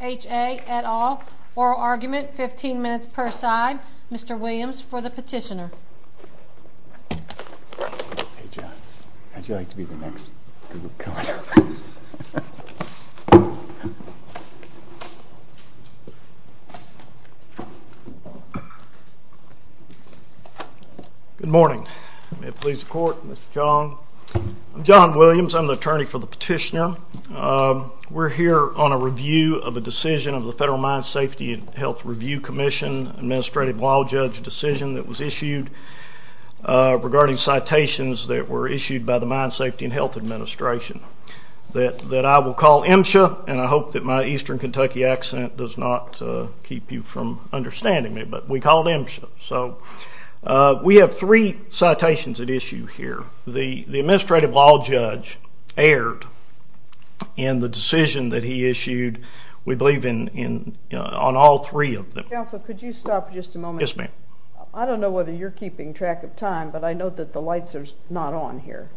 et al. Oral argument, 15 minutes per side. Mr. Williams, for the petitioner. Hey, John. How would you like to be the next? Good morning. May it please the Court, Mr. Williams, for the petitioner. I'm John Williams. I'm the attorney for the petitioner. We're here on a review of a decision of the Federal Mine Safety and Health Review Commission administrative law judge decision that was issued regarding citations that were issued by the Mine Safety and Health Administration that I will call MSHA. And I hope that my eastern Kentucky accent does not keep you from understanding me. But we call it MSHA. So we have three citations at issue here. The administrative law judge erred in the decision that he issued, we believe, on all three of them. Counsel, could you stop for just a moment? Yes, ma'am. I don't know whether you're keeping track of time, but I know that the lights are not on here.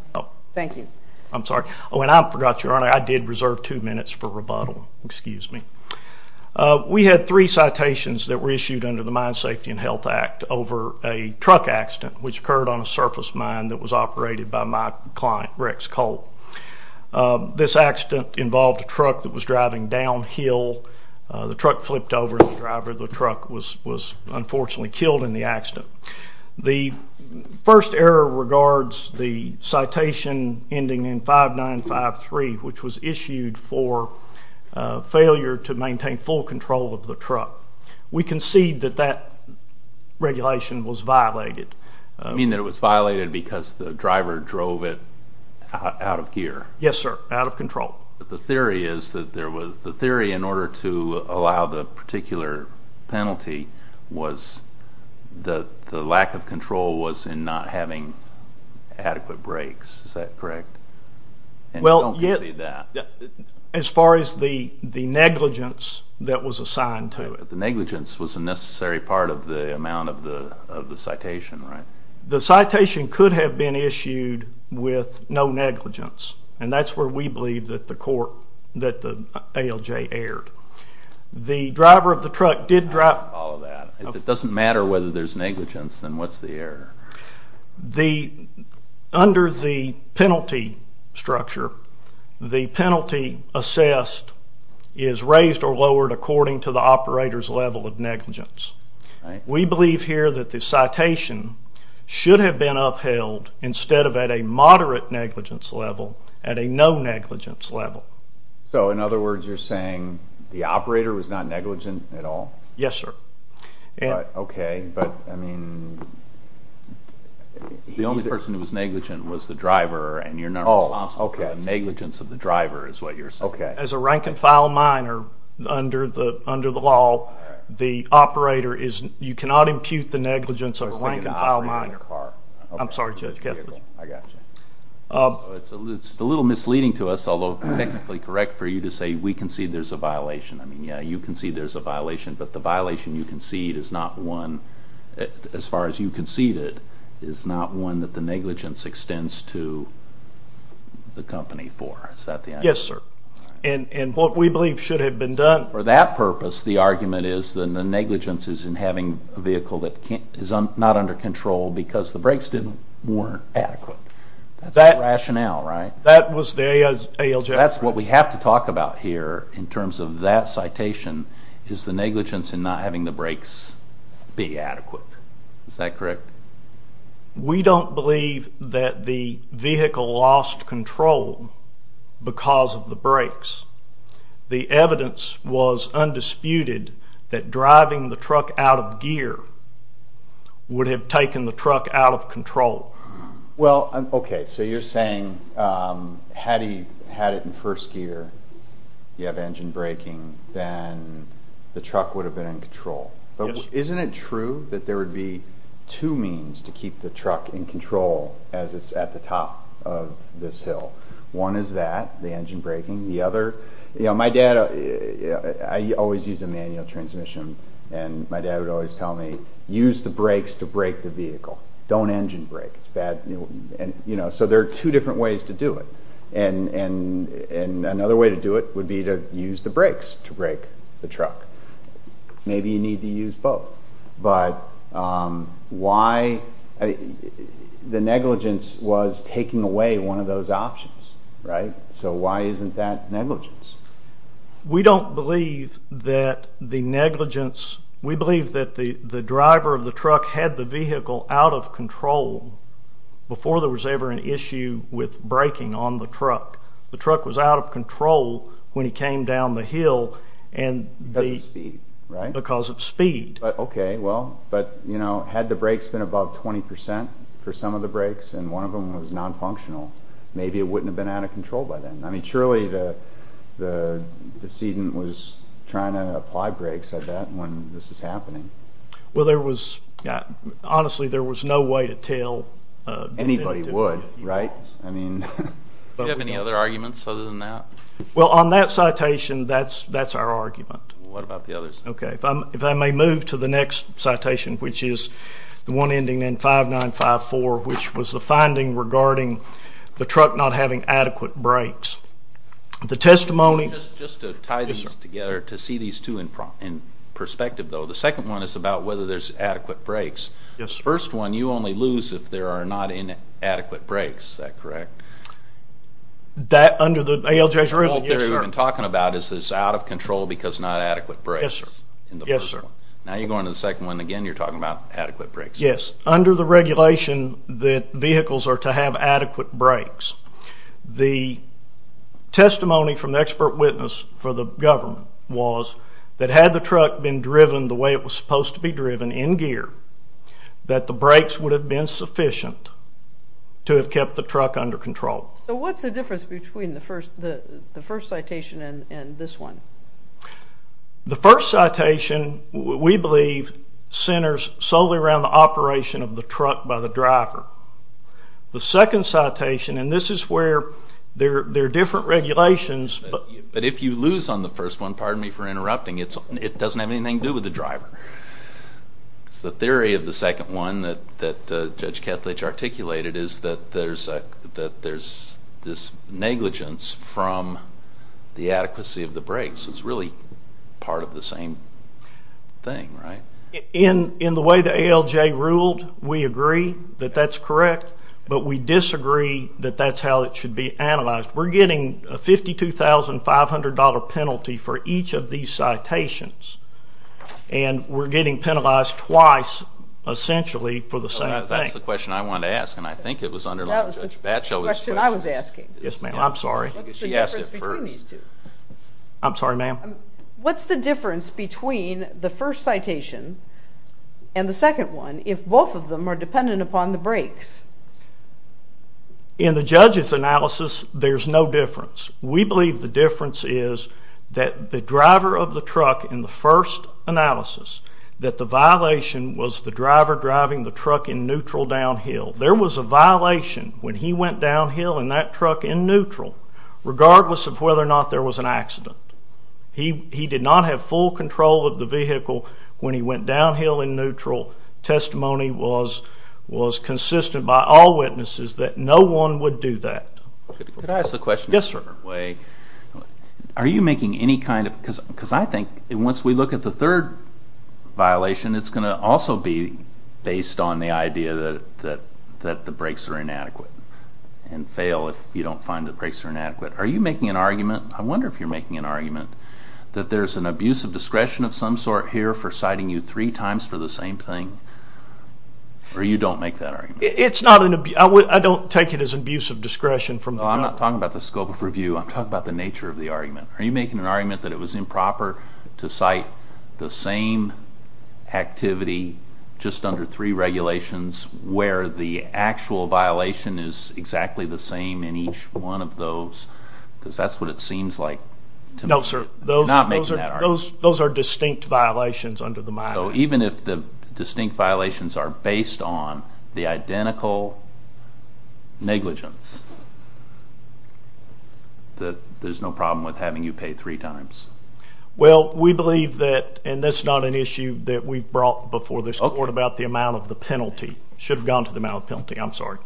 Thank you. I'm sorry. Oh, and I forgot, Your Honor, I did reserve two minutes for rebuttal. We had three citations that were issued under the Mine Safety and Health Act over a truck accident which occurred on a surface mine that was operated by my client, Rex Cole. This accident involved a truck that was driving downhill. The truck flipped over and the driver of the truck was unfortunately killed in the accident. The first error regards the citation ending in 5953, which was issued for failure to maintain full control of the truck. We concede that that regulation was violated. You mean that it was violated because the driver drove it out of gear? Yes, sir, out of control. The theory is that the theory in order to allow the particular penalty was that the lack of control was in not having adequate brakes. Is that correct? As far as the negligence that was assigned to it. The negligence was a necessary part of the amount of the citation, right? The citation could have been issued with no negligence, and that's where we believe that the ALJ erred. If it doesn't matter whether there's negligence, then what's the error? Under the penalty structure, the penalty assessed is raised or lowered according to the operator's level of negligence. We believe here that the citation should have been upheld instead of at a moderate negligence level, at a no negligence level. In other words, you're saying the operator was not negligent at all? Yes, sir. The only person who was negligent was the driver, and you're not responsible for negligence of the driver is what you're saying. As a rank-and-file minor under the law, you cannot impute the negligence of a rank-and-file minor. I'm sorry, Judge Kessler. It's a little misleading to us, although technically correct for you to say we concede there's a violation. You concede there's a violation, but the violation you concede is not one that the negligence extends to the company for. Yes, sir. For that purpose, the argument is that the negligence is in having a vehicle that is not under control because the brakes weren't adequate. That's the rationale, right? That's what we have to talk about here in terms of that citation is the negligence in not having the brakes be adequate. Is that correct? We don't believe that the vehicle lost control because of the brakes. The evidence was undisputed that driving the truck out of gear would have taken the truck out of control. You're saying had he had it in first gear, you have engine braking, then the truck would have been in control. Isn't it true that there would be two means to keep the truck in control as it's at the top of this hill? One is that, the engine braking. I always use a manual transmission. My dad would always tell me, use the brakes to brake the vehicle. Don't engine brake. There are two different ways to do it. Another way to do it would be to use the brakes to brake the truck. Maybe you need to use both. The negligence was taking away one of those options. Why isn't that negligence? We believe that the driver of the truck had the vehicle out of control before there was ever an issue with braking on the truck. The truck was out of control when he came down the hill because of speed. Had the brakes been above 20% for some of the brakes and one of them was non-functional, maybe it wouldn't have been out of control by then. Surely the decedent was trying to apply brakes when this was happening. Honestly, there was no way to tell. Anybody would, right? On that citation, that's our argument. If I may move to the next citation, which is the one ending in 5954, which was the finding regarding the truck not having adequate brakes. Just to tie these together to see these two in perspective, the second one is about whether there's adequate brakes. The first one, you only lose if there are not adequate brakes, is that correct? What they're even talking about is that it's out of control because not adequate brakes. Now you're going to the second one and again you're talking about adequate brakes. Yes, under the regulation that vehicles are to have adequate brakes. The testimony from the expert witness for the government was that had the truck been driven the way it was supposed to be driven in gear, that the brakes would have been sufficient to have kept the truck under control. What's the difference between the first citation and this one? The first citation, we believe, centers solely around the operation of the truck by the driver. The second citation, and this is where there are different regulations. But if you lose on the first one, pardon me for interrupting, it doesn't have anything to do with the driver. The theory of the second one that Judge Kethledge articulated is that there's this negligence from the adequacy of the brakes. It's really part of the same thing, right? In the way the ALJ ruled, we agree that that's correct, but we disagree that that's how it should be analyzed. We're getting a $52,500 penalty for each of these citations, and we're getting penalized twice essentially for the same thing. That's the question I wanted to ask, and I think it was underlined. That was the question I was asking. Yes, ma'am. I'm sorry. What's the difference between these two? I'm sorry, ma'am. What's the difference between the first citation and the second one if both of them are dependent upon the brakes? In the judge's analysis, there's no difference. We believe the difference is that the driver of the truck in the first analysis, that the violation was the driver driving the truck in neutral downhill. There was a violation when he went downhill in that truck in neutral, regardless of whether or not there was an accident. He did not have full control of the vehicle when he went downhill in neutral. Testimony was consistent by all witnesses that no one would do that. Could I ask a question? Yes, sir. Are you making any kind of, because I think once we look at the third violation, it's going to also be based on the idea that the brakes are inadequate and fail if you don't find the brakes are inadequate. Are you making an argument, I wonder if you're making an argument, that there's an abuse of discretion of some sort here for citing you three times for the same thing, or you don't make that argument? I don't take it as abuse of discretion. I'm not talking about the scope of review. I'm talking about the nature of the argument. Are you making an argument that it was improper to cite the same activity just under three regulations, where the actual violation is exactly the same in each one of those? Because that's what it seems like to me. No, sir. I'm not making that argument. Those are distinct violations under the minor. So even if the distinct violations are based on the identical negligence, that there's no problem with having you pay three times? Well, we believe that, and that's not an issue that we brought before this court about the amount of the penalty. It should have gone to the amount of the penalty. I'm sorry.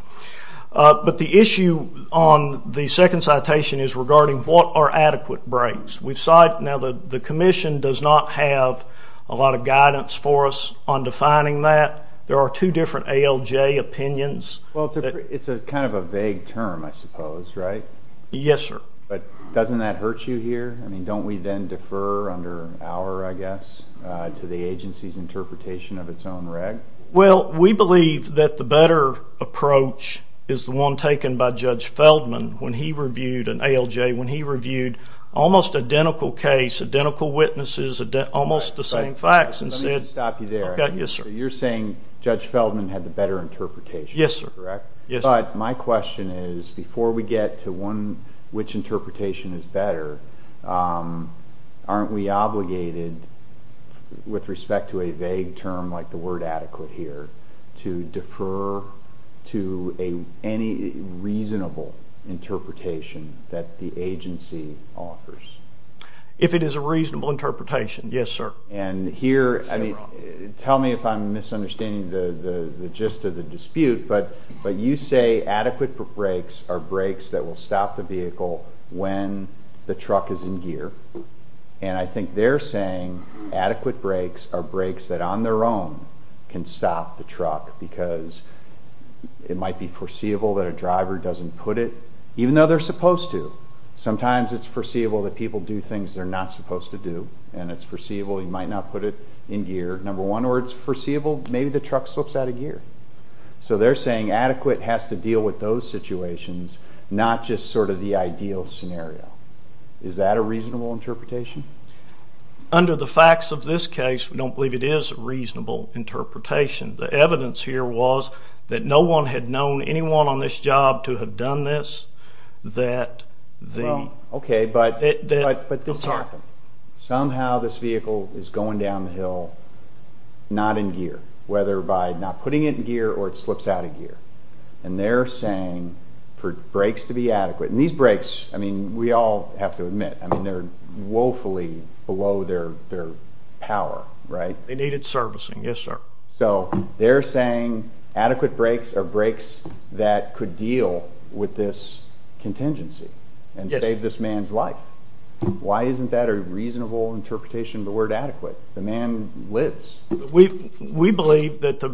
But the issue on the second citation is regarding what are adequate brakes. Now, the commission does not have a lot of guidance for us on defining that. There are two different ALJ opinions. Well, it's kind of a vague term, I suppose, right? Yes, sir. But doesn't that hurt you here? I mean, don't we then defer under our, I guess, to the agency's interpretation of its own reg? Well, we believe that the better approach is the one taken by Judge Feldman when he reviewed an ALJ, when he reviewed almost identical case, identical witnesses, almost the same facts and said, I've got you, sir. You're saying Judge Feldman had the better interpretation, correct? Yes, sir. But my question is, before we get to which interpretation is better, aren't we obligated with respect to a vague term like the word adequate here to defer to any reasonable interpretation that the agency offers? If it is a reasonable interpretation, yes, sir. And here, tell me if I'm misunderstanding the gist of the dispute, but you say adequate brakes are brakes that will stop the vehicle when the truck is in gear. And I think they're saying adequate brakes are brakes that on their own can stop the truck because it might be foreseeable that a driver doesn't put it, even though they're supposed to. Sometimes it's foreseeable that people do things they're not supposed to do, and it's foreseeable you might not put it in gear. Number one, or it's foreseeable maybe the truck slips out of gear. So they're saying adequate has to deal with those situations, not just sort of the ideal scenario. Is that a reasonable interpretation? Under the facts of this case, we don't believe it is a reasonable interpretation. The evidence here was that no one had known anyone on this job to have done this. Okay, but somehow this vehicle is going down the hill not in gear, whether by not putting it in gear or it slips out of gear, and they're saying for brakes to be adequate. And these brakes, I mean, we all have to admit, I mean, they're woefully below their power, right? They needed servicing, yes, sir. So they're saying adequate brakes are brakes that could deal with this contingency and save this man's life. Why isn't that a reasonable interpretation of the word adequate? The man lives. We believe that the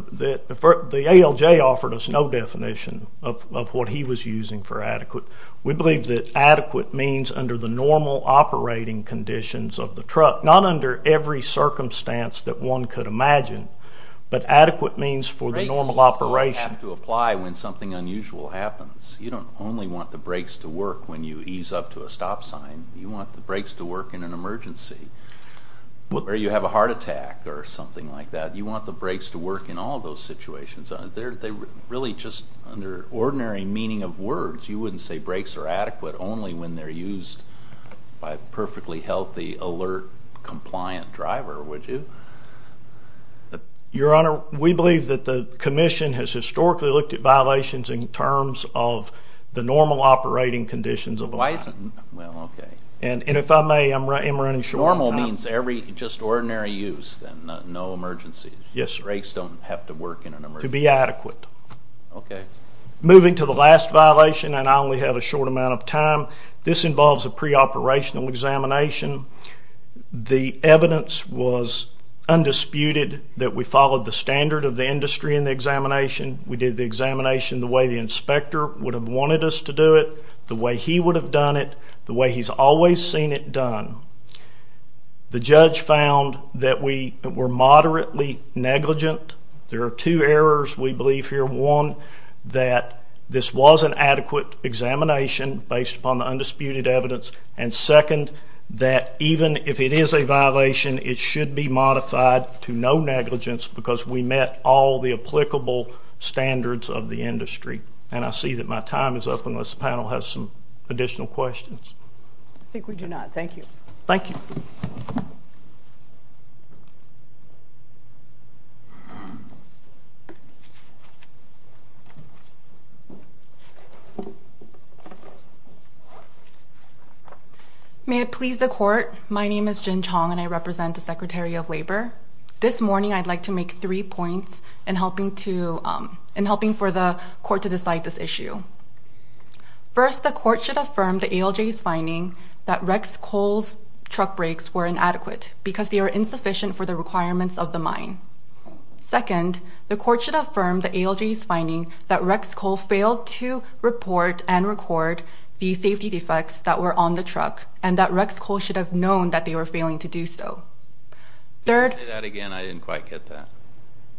ALJ offered us no definition of what he was using for adequate. We believe that adequate means under the normal operating conditions of the truck, not under every circumstance that one could imagine, but adequate means for the normal operation. Brakes have to apply when something unusual happens. You don't only want the brakes to work when you ease up to a stop sign. You want the brakes to work in an emergency, where you have a heart attack or something like that. You want the brakes to work in all those situations. They're really just under ordinary meaning of words. You wouldn't say brakes are adequate only when they're used by a perfectly healthy, alert, compliant driver, would you? Your Honor, we believe that the commission has historically looked at violations in terms of the normal operating conditions of the line. Why isn't it? Well, okay. And if I may, I'm running short on time. Normal means just ordinary use, no emergencies. Yes, sir. So the brakes don't have to work in an emergency. To be adequate. Okay. Moving to the last violation, and I only have a short amount of time, this involves a preoperational examination. The evidence was undisputed that we followed the standard of the industry in the examination. We did the examination the way the inspector would have wanted us to do it, the way he would have done it, the way he's always seen it done. The judge found that we were moderately negligent. There are two errors we believe here. One, that this was an adequate examination based upon the undisputed evidence, and second, that even if it is a violation, it should be modified to no negligence because we met all the applicable standards of the industry. And I see that my time is up unless the panel has some additional questions. I think we do not. Thank you. Thank you. May it please the Court, my name is Jin Chong, and I represent the Secretary of Labor. This morning I'd like to make three points in helping for the Court to decide this issue. First, the Court should affirm the ALJ's finding that Rex Cole's truck brakes were inadequate because they are insufficient for the requirements of the mine. Second, the Court should affirm the ALJ's finding that Rex Cole failed to report and record the safety defects that were on the truck and that Rex Cole should have known that they were failing to do so. Say that again, I didn't quite get that.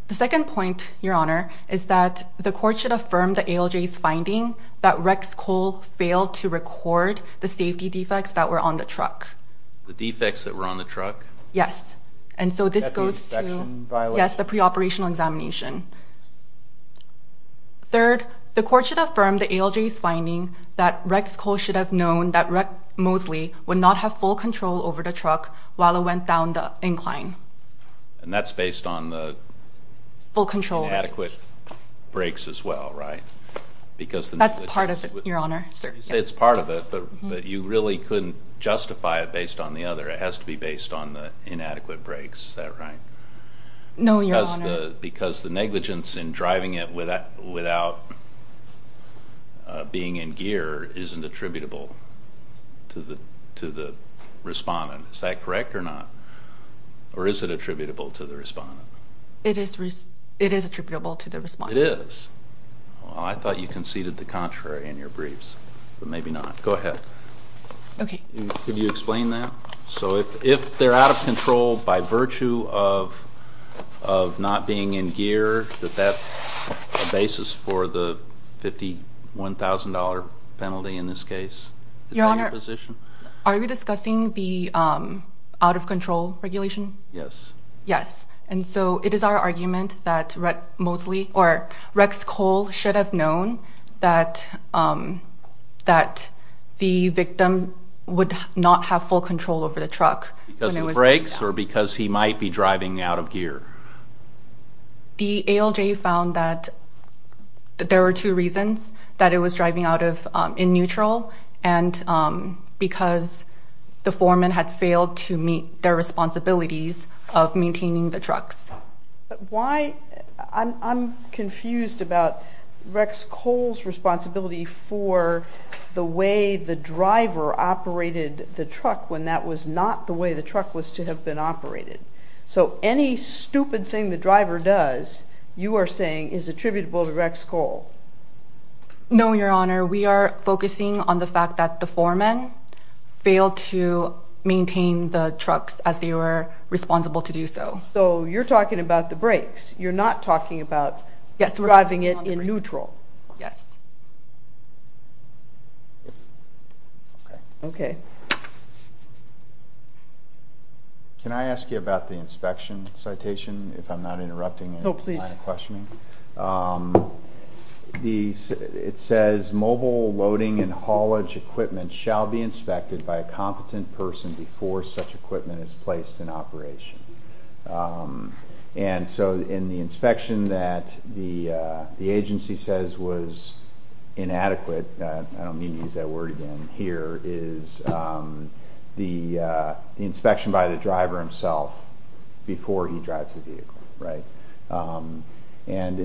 The second point, Your Honor, is that the Court should affirm the ALJ's finding that Rex Cole failed to record the safety defects that were on the truck. The defects that were on the truck? Yes, and so this goes to the preoperational examination. Third, the Court should affirm the ALJ's finding that Rex Cole should have known that Mosley would not have full control over the truck while it went down the incline. And that's based on the inadequate brakes as well, right? That's part of it, Your Honor. You say it's part of it, but you really couldn't justify it based on the other. It has to be based on the inadequate brakes, is that right? No, Your Honor. Because the negligence in driving it without being in gear isn't attributable to the respondent, is that correct or not? Or is it attributable to the respondent? It is attributable to the respondent. It is? Well, I thought you conceded the contrary in your briefs, but maybe not. Go ahead. Okay. Could you explain that? So if they're out of control by virtue of not being in gear, that that's the basis for the $51,000 penalty in this case? Your Honor, are we discussing the out-of-control regulation? Yes. Yes. And so it is our argument that Rex Cole should have known that the victim would not have full control over the truck. Because of the brakes or because he might be driving out of gear? The ALJ found that there were two reasons that it was driving out of in neutral and because the foreman had failed to meet their responsibilities of maintaining the trucks. But why? I'm confused about Rex Cole's responsibility for the way the driver operated the truck when that was not the way the truck was to have been operated. So any stupid thing the driver does, you are saying, is attributable to Rex Cole? No, Your Honor. We are focusing on the fact that the foreman failed to maintain the trucks as they were responsible to do so. So you're talking about the brakes. You're not talking about driving it in neutral. Yes. Okay. Can I ask you about the inspection citation, if I'm not interrupting? No, please. It says, Mobile loading and haulage equipment shall be inspected by a competent person before such equipment is placed in operation. And so in the inspection that the agency says was inadequate, I don't mean to use that word again here, is the inspection by the driver himself before he drives the vehicle. And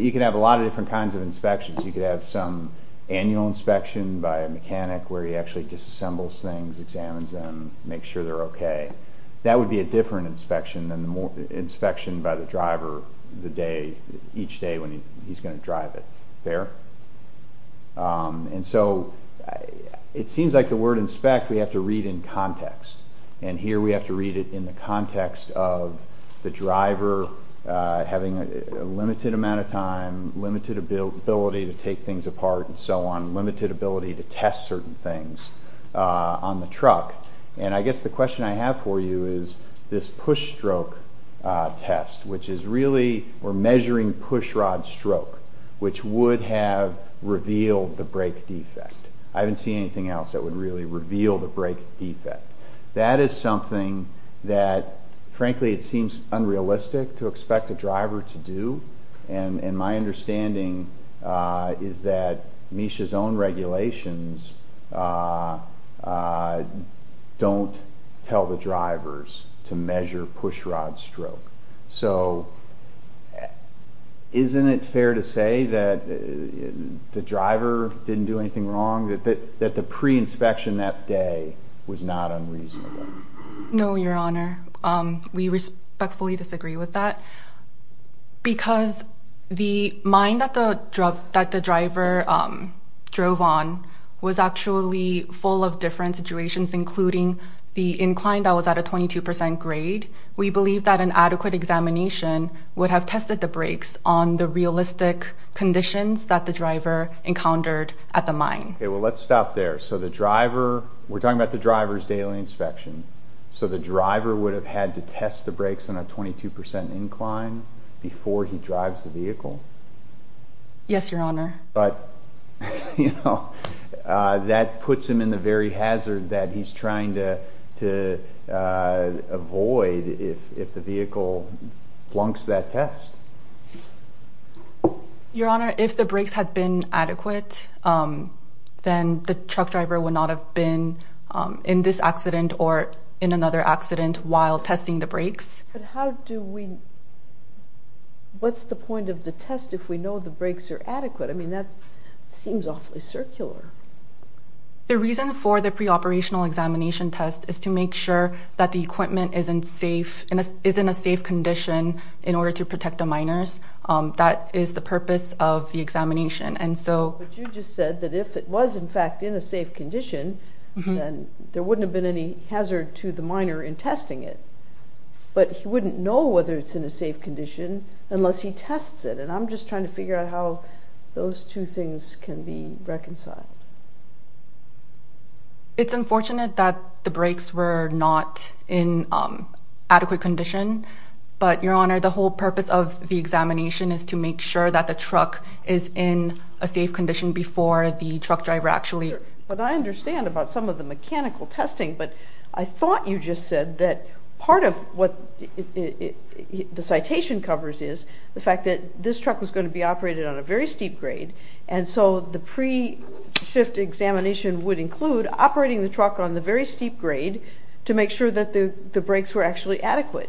you can have a lot of different kinds of inspections. You could have some annual inspection by a mechanic where he actually disassembles things, examines them, makes sure they're okay. That would be a different inspection than the inspection by the driver each day when he's going to drive it. Fair? And so it seems like the word inspect we have to read in context. And here we have to read it in the context of the driver having a limited amount of time, limited ability to take things apart and so on, limited ability to test certain things on the truck. And I guess the question I have for you is this push stroke test, which is really we're measuring pushrod stroke, which would have revealed the brake defect. I haven't seen anything else that would really reveal the brake defect. That is something that, frankly, it seems unrealistic to expect a driver to do. And my understanding is that Misha's own regulations don't tell the drivers to measure pushrod stroke. So isn't it fair to say that the driver didn't do anything wrong, that the pre-inspection that day was not unreasonable? No, Your Honor. We respectfully disagree with that because the mine that the driver drove on was actually full of different situations, including the incline that was at a 22 percent grade. We believe that an adequate examination would have tested the brakes on the realistic conditions that the driver encountered at the mine. Okay, well, let's stop there. So the driver, we're talking about the driver's daily inspection, so the driver would have had to test the brakes on a 22 percent incline before he drives the vehicle? Yes, Your Honor. But, you know, that puts him in the very hazard that he's trying to avoid if the vehicle flunks that test. Your Honor, if the brakes had been adequate, then the truck driver would not have been in this accident or in another accident while testing the brakes. But what's the point of the test if we know the brakes are adequate? I mean, that seems awfully circular. The reason for the pre-operational examination test is to make sure that the equipment is in a safe condition in order to protect the miners. That is the purpose of the examination. But you just said that if it was, in fact, in a safe condition, then there wouldn't have been any hazard to the miner in testing it. But he wouldn't know whether it's in a safe condition unless he tests it, and I'm just trying to figure out how those two things can be reconciled. It's unfortunate that the brakes were not in adequate condition, but, Your Honor, the whole purpose of the examination is to make sure that the truck is in a safe condition before the truck driver actually. But I understand about some of the mechanical testing, but I thought you just said that part of what the citation covers is the fact that this truck was going to be operated on a very steep grade, and so the pre-shift examination would include operating the truck on the very steep grade to make sure that the brakes were actually adequate.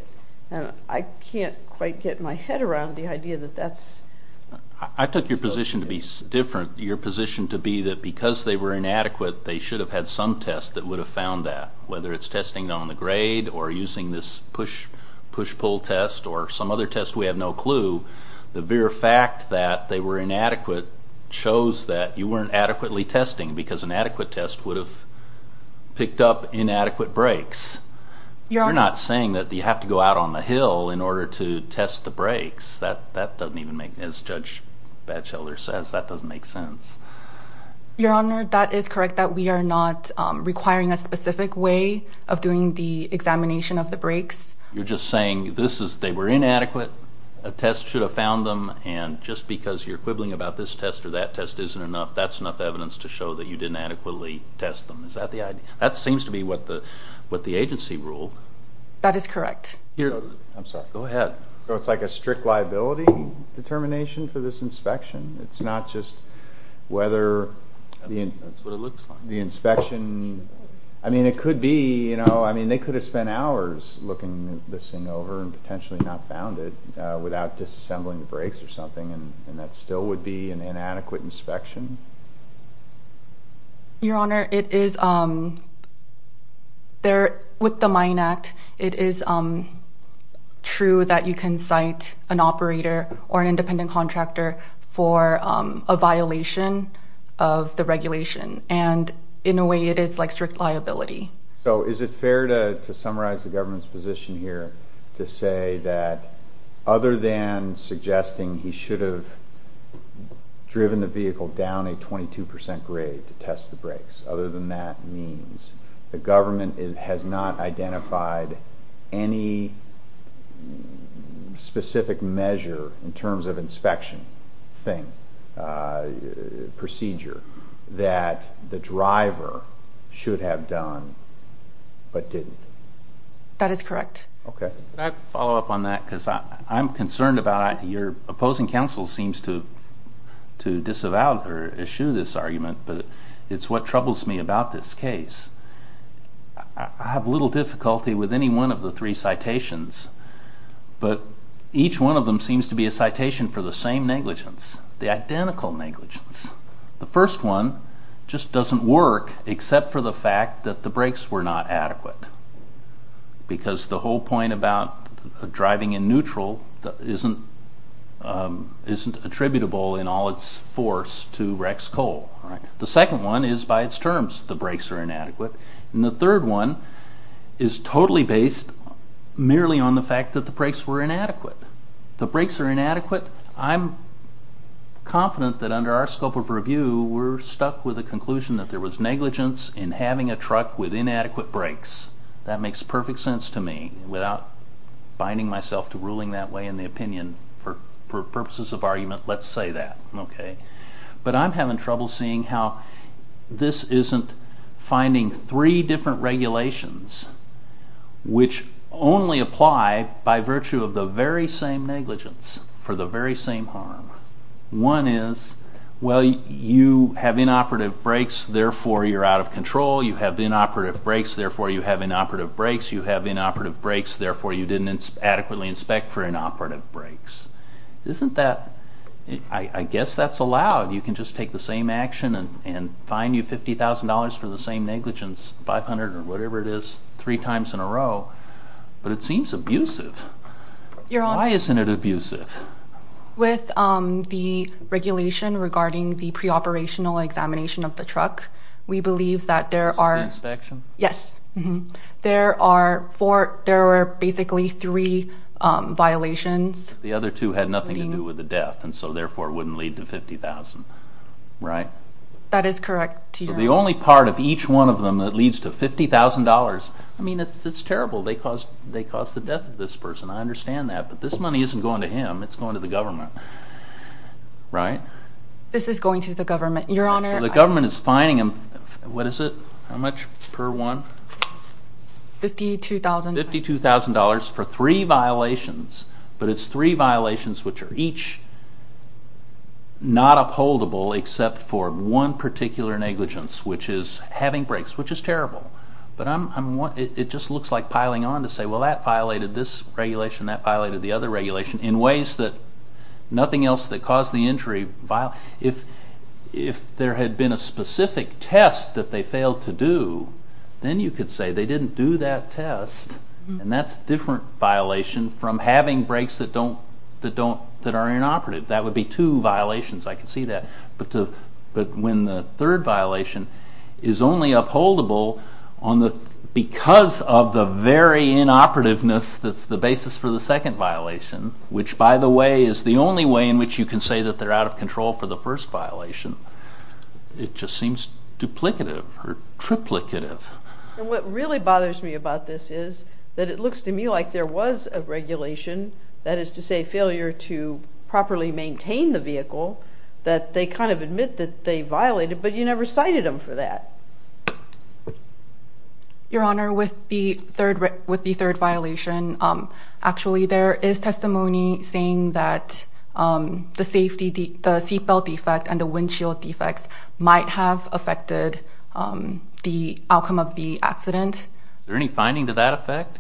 I can't quite get my head around the idea that that's... I took your position to be different. Your position to be that because they were inadequate, they should have had some test that would have found that, whether it's testing it on the grade or using this push-pull test or some other test, we have no clue. The mere fact that they were inadequate shows that you weren't adequately testing because an adequate test would have picked up inadequate brakes. You're not saying that you have to go out on the hill in order to test the brakes. That doesn't even make... As Judge Batchelder says, that doesn't make sense. Your Honor, that is correct, that we are not requiring a specific way of doing the examination of the brakes. You're just saying they were inadequate, a test should have found them, and just because you're quibbling about this test or that test isn't enough, that's enough evidence to show that you didn't adequately test them. Is that the idea? That seems to be what the agency ruled. That is correct. I'm sorry. Go ahead. So it's like a strict liability determination for this inspection? It's not just whether the inspection... That's what it looks like. I mean, it could be. They could have spent hours looking this thing over and potentially not found it without disassembling the brakes or something, and that still would be an inadequate inspection? Your Honor, with the Mine Act, it is true that you can cite an operator or an independent contractor for a violation of the regulation, and in a way it is like strict liability. So is it fair to summarize the government's position here to say that other than suggesting he should have driven the vehicle down a 22% grade to test the brakes, other than that means the government has not identified any specific measure in terms of inspection thing, procedure, that the driver should have done but didn't? That is correct. Can I follow up on that? Because I'm concerned about it. Your opposing counsel seems to disavow or eschew this argument, but it's what troubles me about this case. I have little difficulty with any one of the three citations, but each one of them seems to be a citation for the same negligence, the identical negligence. The first one just doesn't work except for the fact that the brakes were not adequate, because the whole point about driving in neutral isn't attributable in all its force to Rex Cole. The second one is by its terms the brakes are inadequate, and the third one is totally based merely on the fact that the brakes were inadequate. The brakes are inadequate. I'm confident that under our scope of review we're stuck with the conclusion that there was negligence in having a truck with inadequate brakes. That makes perfect sense to me, without binding myself to ruling that way in the opinion. For purposes of argument, let's say that. But I'm having trouble seeing how this isn't finding three different regulations which only apply by virtue of the very same negligence for the very same harm. One is, well, you have inoperative brakes, therefore you're out of control. You have inoperative brakes, therefore you have inoperative brakes. You have inoperative brakes, therefore you didn't adequately inspect for inoperative brakes. Isn't that... I guess that's allowed. You can just take the same action and fine you $50,000 for the same negligence, $500,000 or whatever it is, three times in a row. But it seems abusive. Why isn't it abusive? With the regulation regarding the pre-operational examination of the truck, we believe that there are... Is this the inspection? Yes. There are basically three violations. The other two had nothing to do with the death, and so therefore it wouldn't lead to $50,000. Right? That is correct. So the only part of each one of them that leads to $50,000... I mean, it's terrible. They caused the death of this person. I understand that. But this money isn't going to him. It's going to the government. Right? This is going to the government, Your Honor. The government is fining him... What is it? How much per one? $52,000. $52,000 for three violations, but it's three violations which are each not upholdable except for one particular negligence, which is having breaks, which is terrible. But it just looks like piling on to say, well, that violated this regulation, that violated the other regulation, in ways that nothing else that caused the injury... If there had been a specific test that they failed to do, then you could say they didn't do that test, and that's a different violation from having breaks that are inoperative. That would be two violations. I can see that. But when the third violation is only upholdable because of the very inoperativeness that's the basis for the second violation, which, by the way, is the only way in which you can say that they're out of control for the first violation, it just seems duplicative or triplicative. And what really bothers me about this is that it looks to me like there was a regulation, that is to say failure to properly maintain the vehicle, that they kind of admit that they violated, but you never cited them for that. Your Honor, with the third violation, actually there is testimony saying that the seatbelt defect and the windshield defects might have affected the outcome of the accident. Is there any finding to that effect?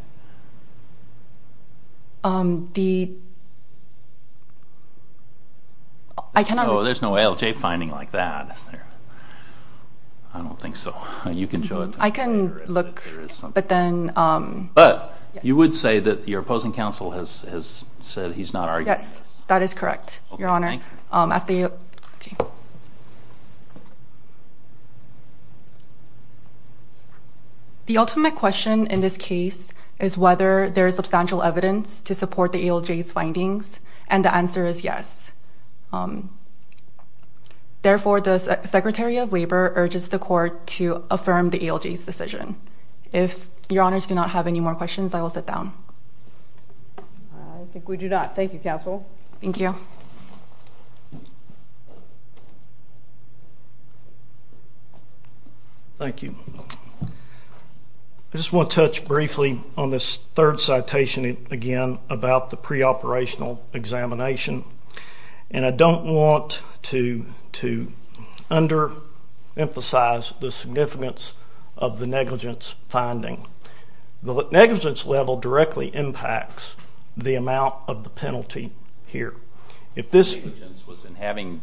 There's no ALJ finding like that, is there? I don't think so. You can show it to me. I can look, but then... But you would say that your opposing counsel has said he's not arguing this. Yes, that is correct, Your Honor. The ultimate question in this case is whether there is substantial evidence to support the ALJ's findings, and the answer is yes. Therefore, the Secretary of Labor urges the court to affirm the ALJ's decision. If Your Honors do not have any more questions, I will sit down. I think we do not. Thank you, counsel. Thank you. Thank you. I just want to touch briefly on this third citation again about the preoperational examination, and I don't want to under-emphasize the significance of the negligence finding. The negligence level directly impacts the amount of the penalty here. If this negligence was in having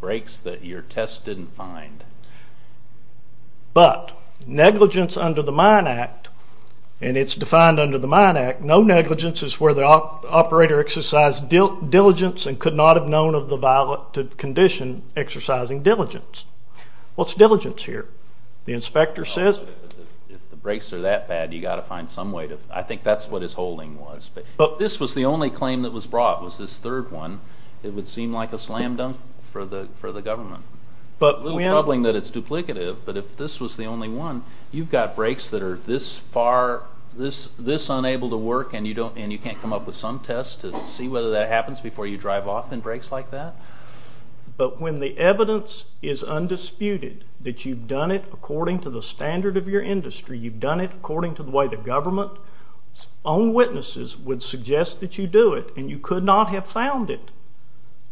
breaks that your test didn't find, but negligence under the Mine Act, and it's defined under the Mine Act, no negligence is where the operator exercised diligence and could not have known of the violative condition exercising diligence. What's diligence here? The inspector says... If the breaks are that bad, you've got to find some way to... I think that's what his holding was. But this was the only claim that was brought, was this third one. It would seem like a slam-dunk for the government. A little troubling that it's duplicative, but if this was the only one, you've got breaks that are this far, this unable to work, and you can't come up with some test to see whether that happens before you drive off in breaks like that? But when the evidence is undisputed that you've done it according to the standard of your industry, you've done it according to the way the government's own witnesses would suggest that you do it, and you could not have found it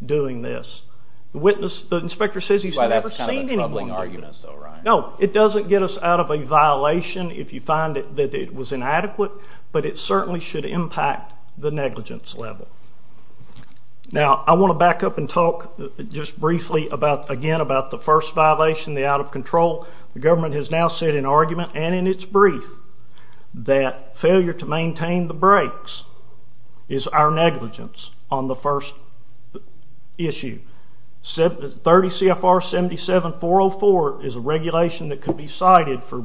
doing this. The inspector says he's never seen anyone do this. That's kind of a troubling argument, though, right? No, it doesn't get us out of a violation if you find that it was inadequate, but it certainly should impact the negligence level. Now, I want to back up and talk just briefly again about the first violation, the out-of-control. The government has now said in argument and in its brief that failure to maintain the breaks is our negligence on the first issue. 30 CFR 77-404 is a regulation that could be cited for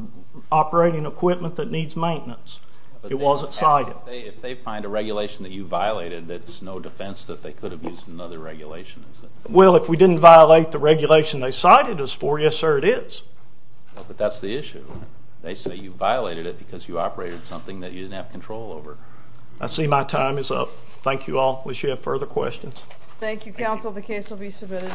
operating equipment that needs maintenance. It wasn't cited. If they find a regulation that you violated, that's no defense that they could have used another regulation, is it? Well, if we didn't violate the regulation they cited us for, yes, sir, it is. But that's the issue. They say you violated it because you operated something that you didn't have control over. I see my time is up. Thank you all. We should have further questions. Thank you, counsel. The case will be submitted.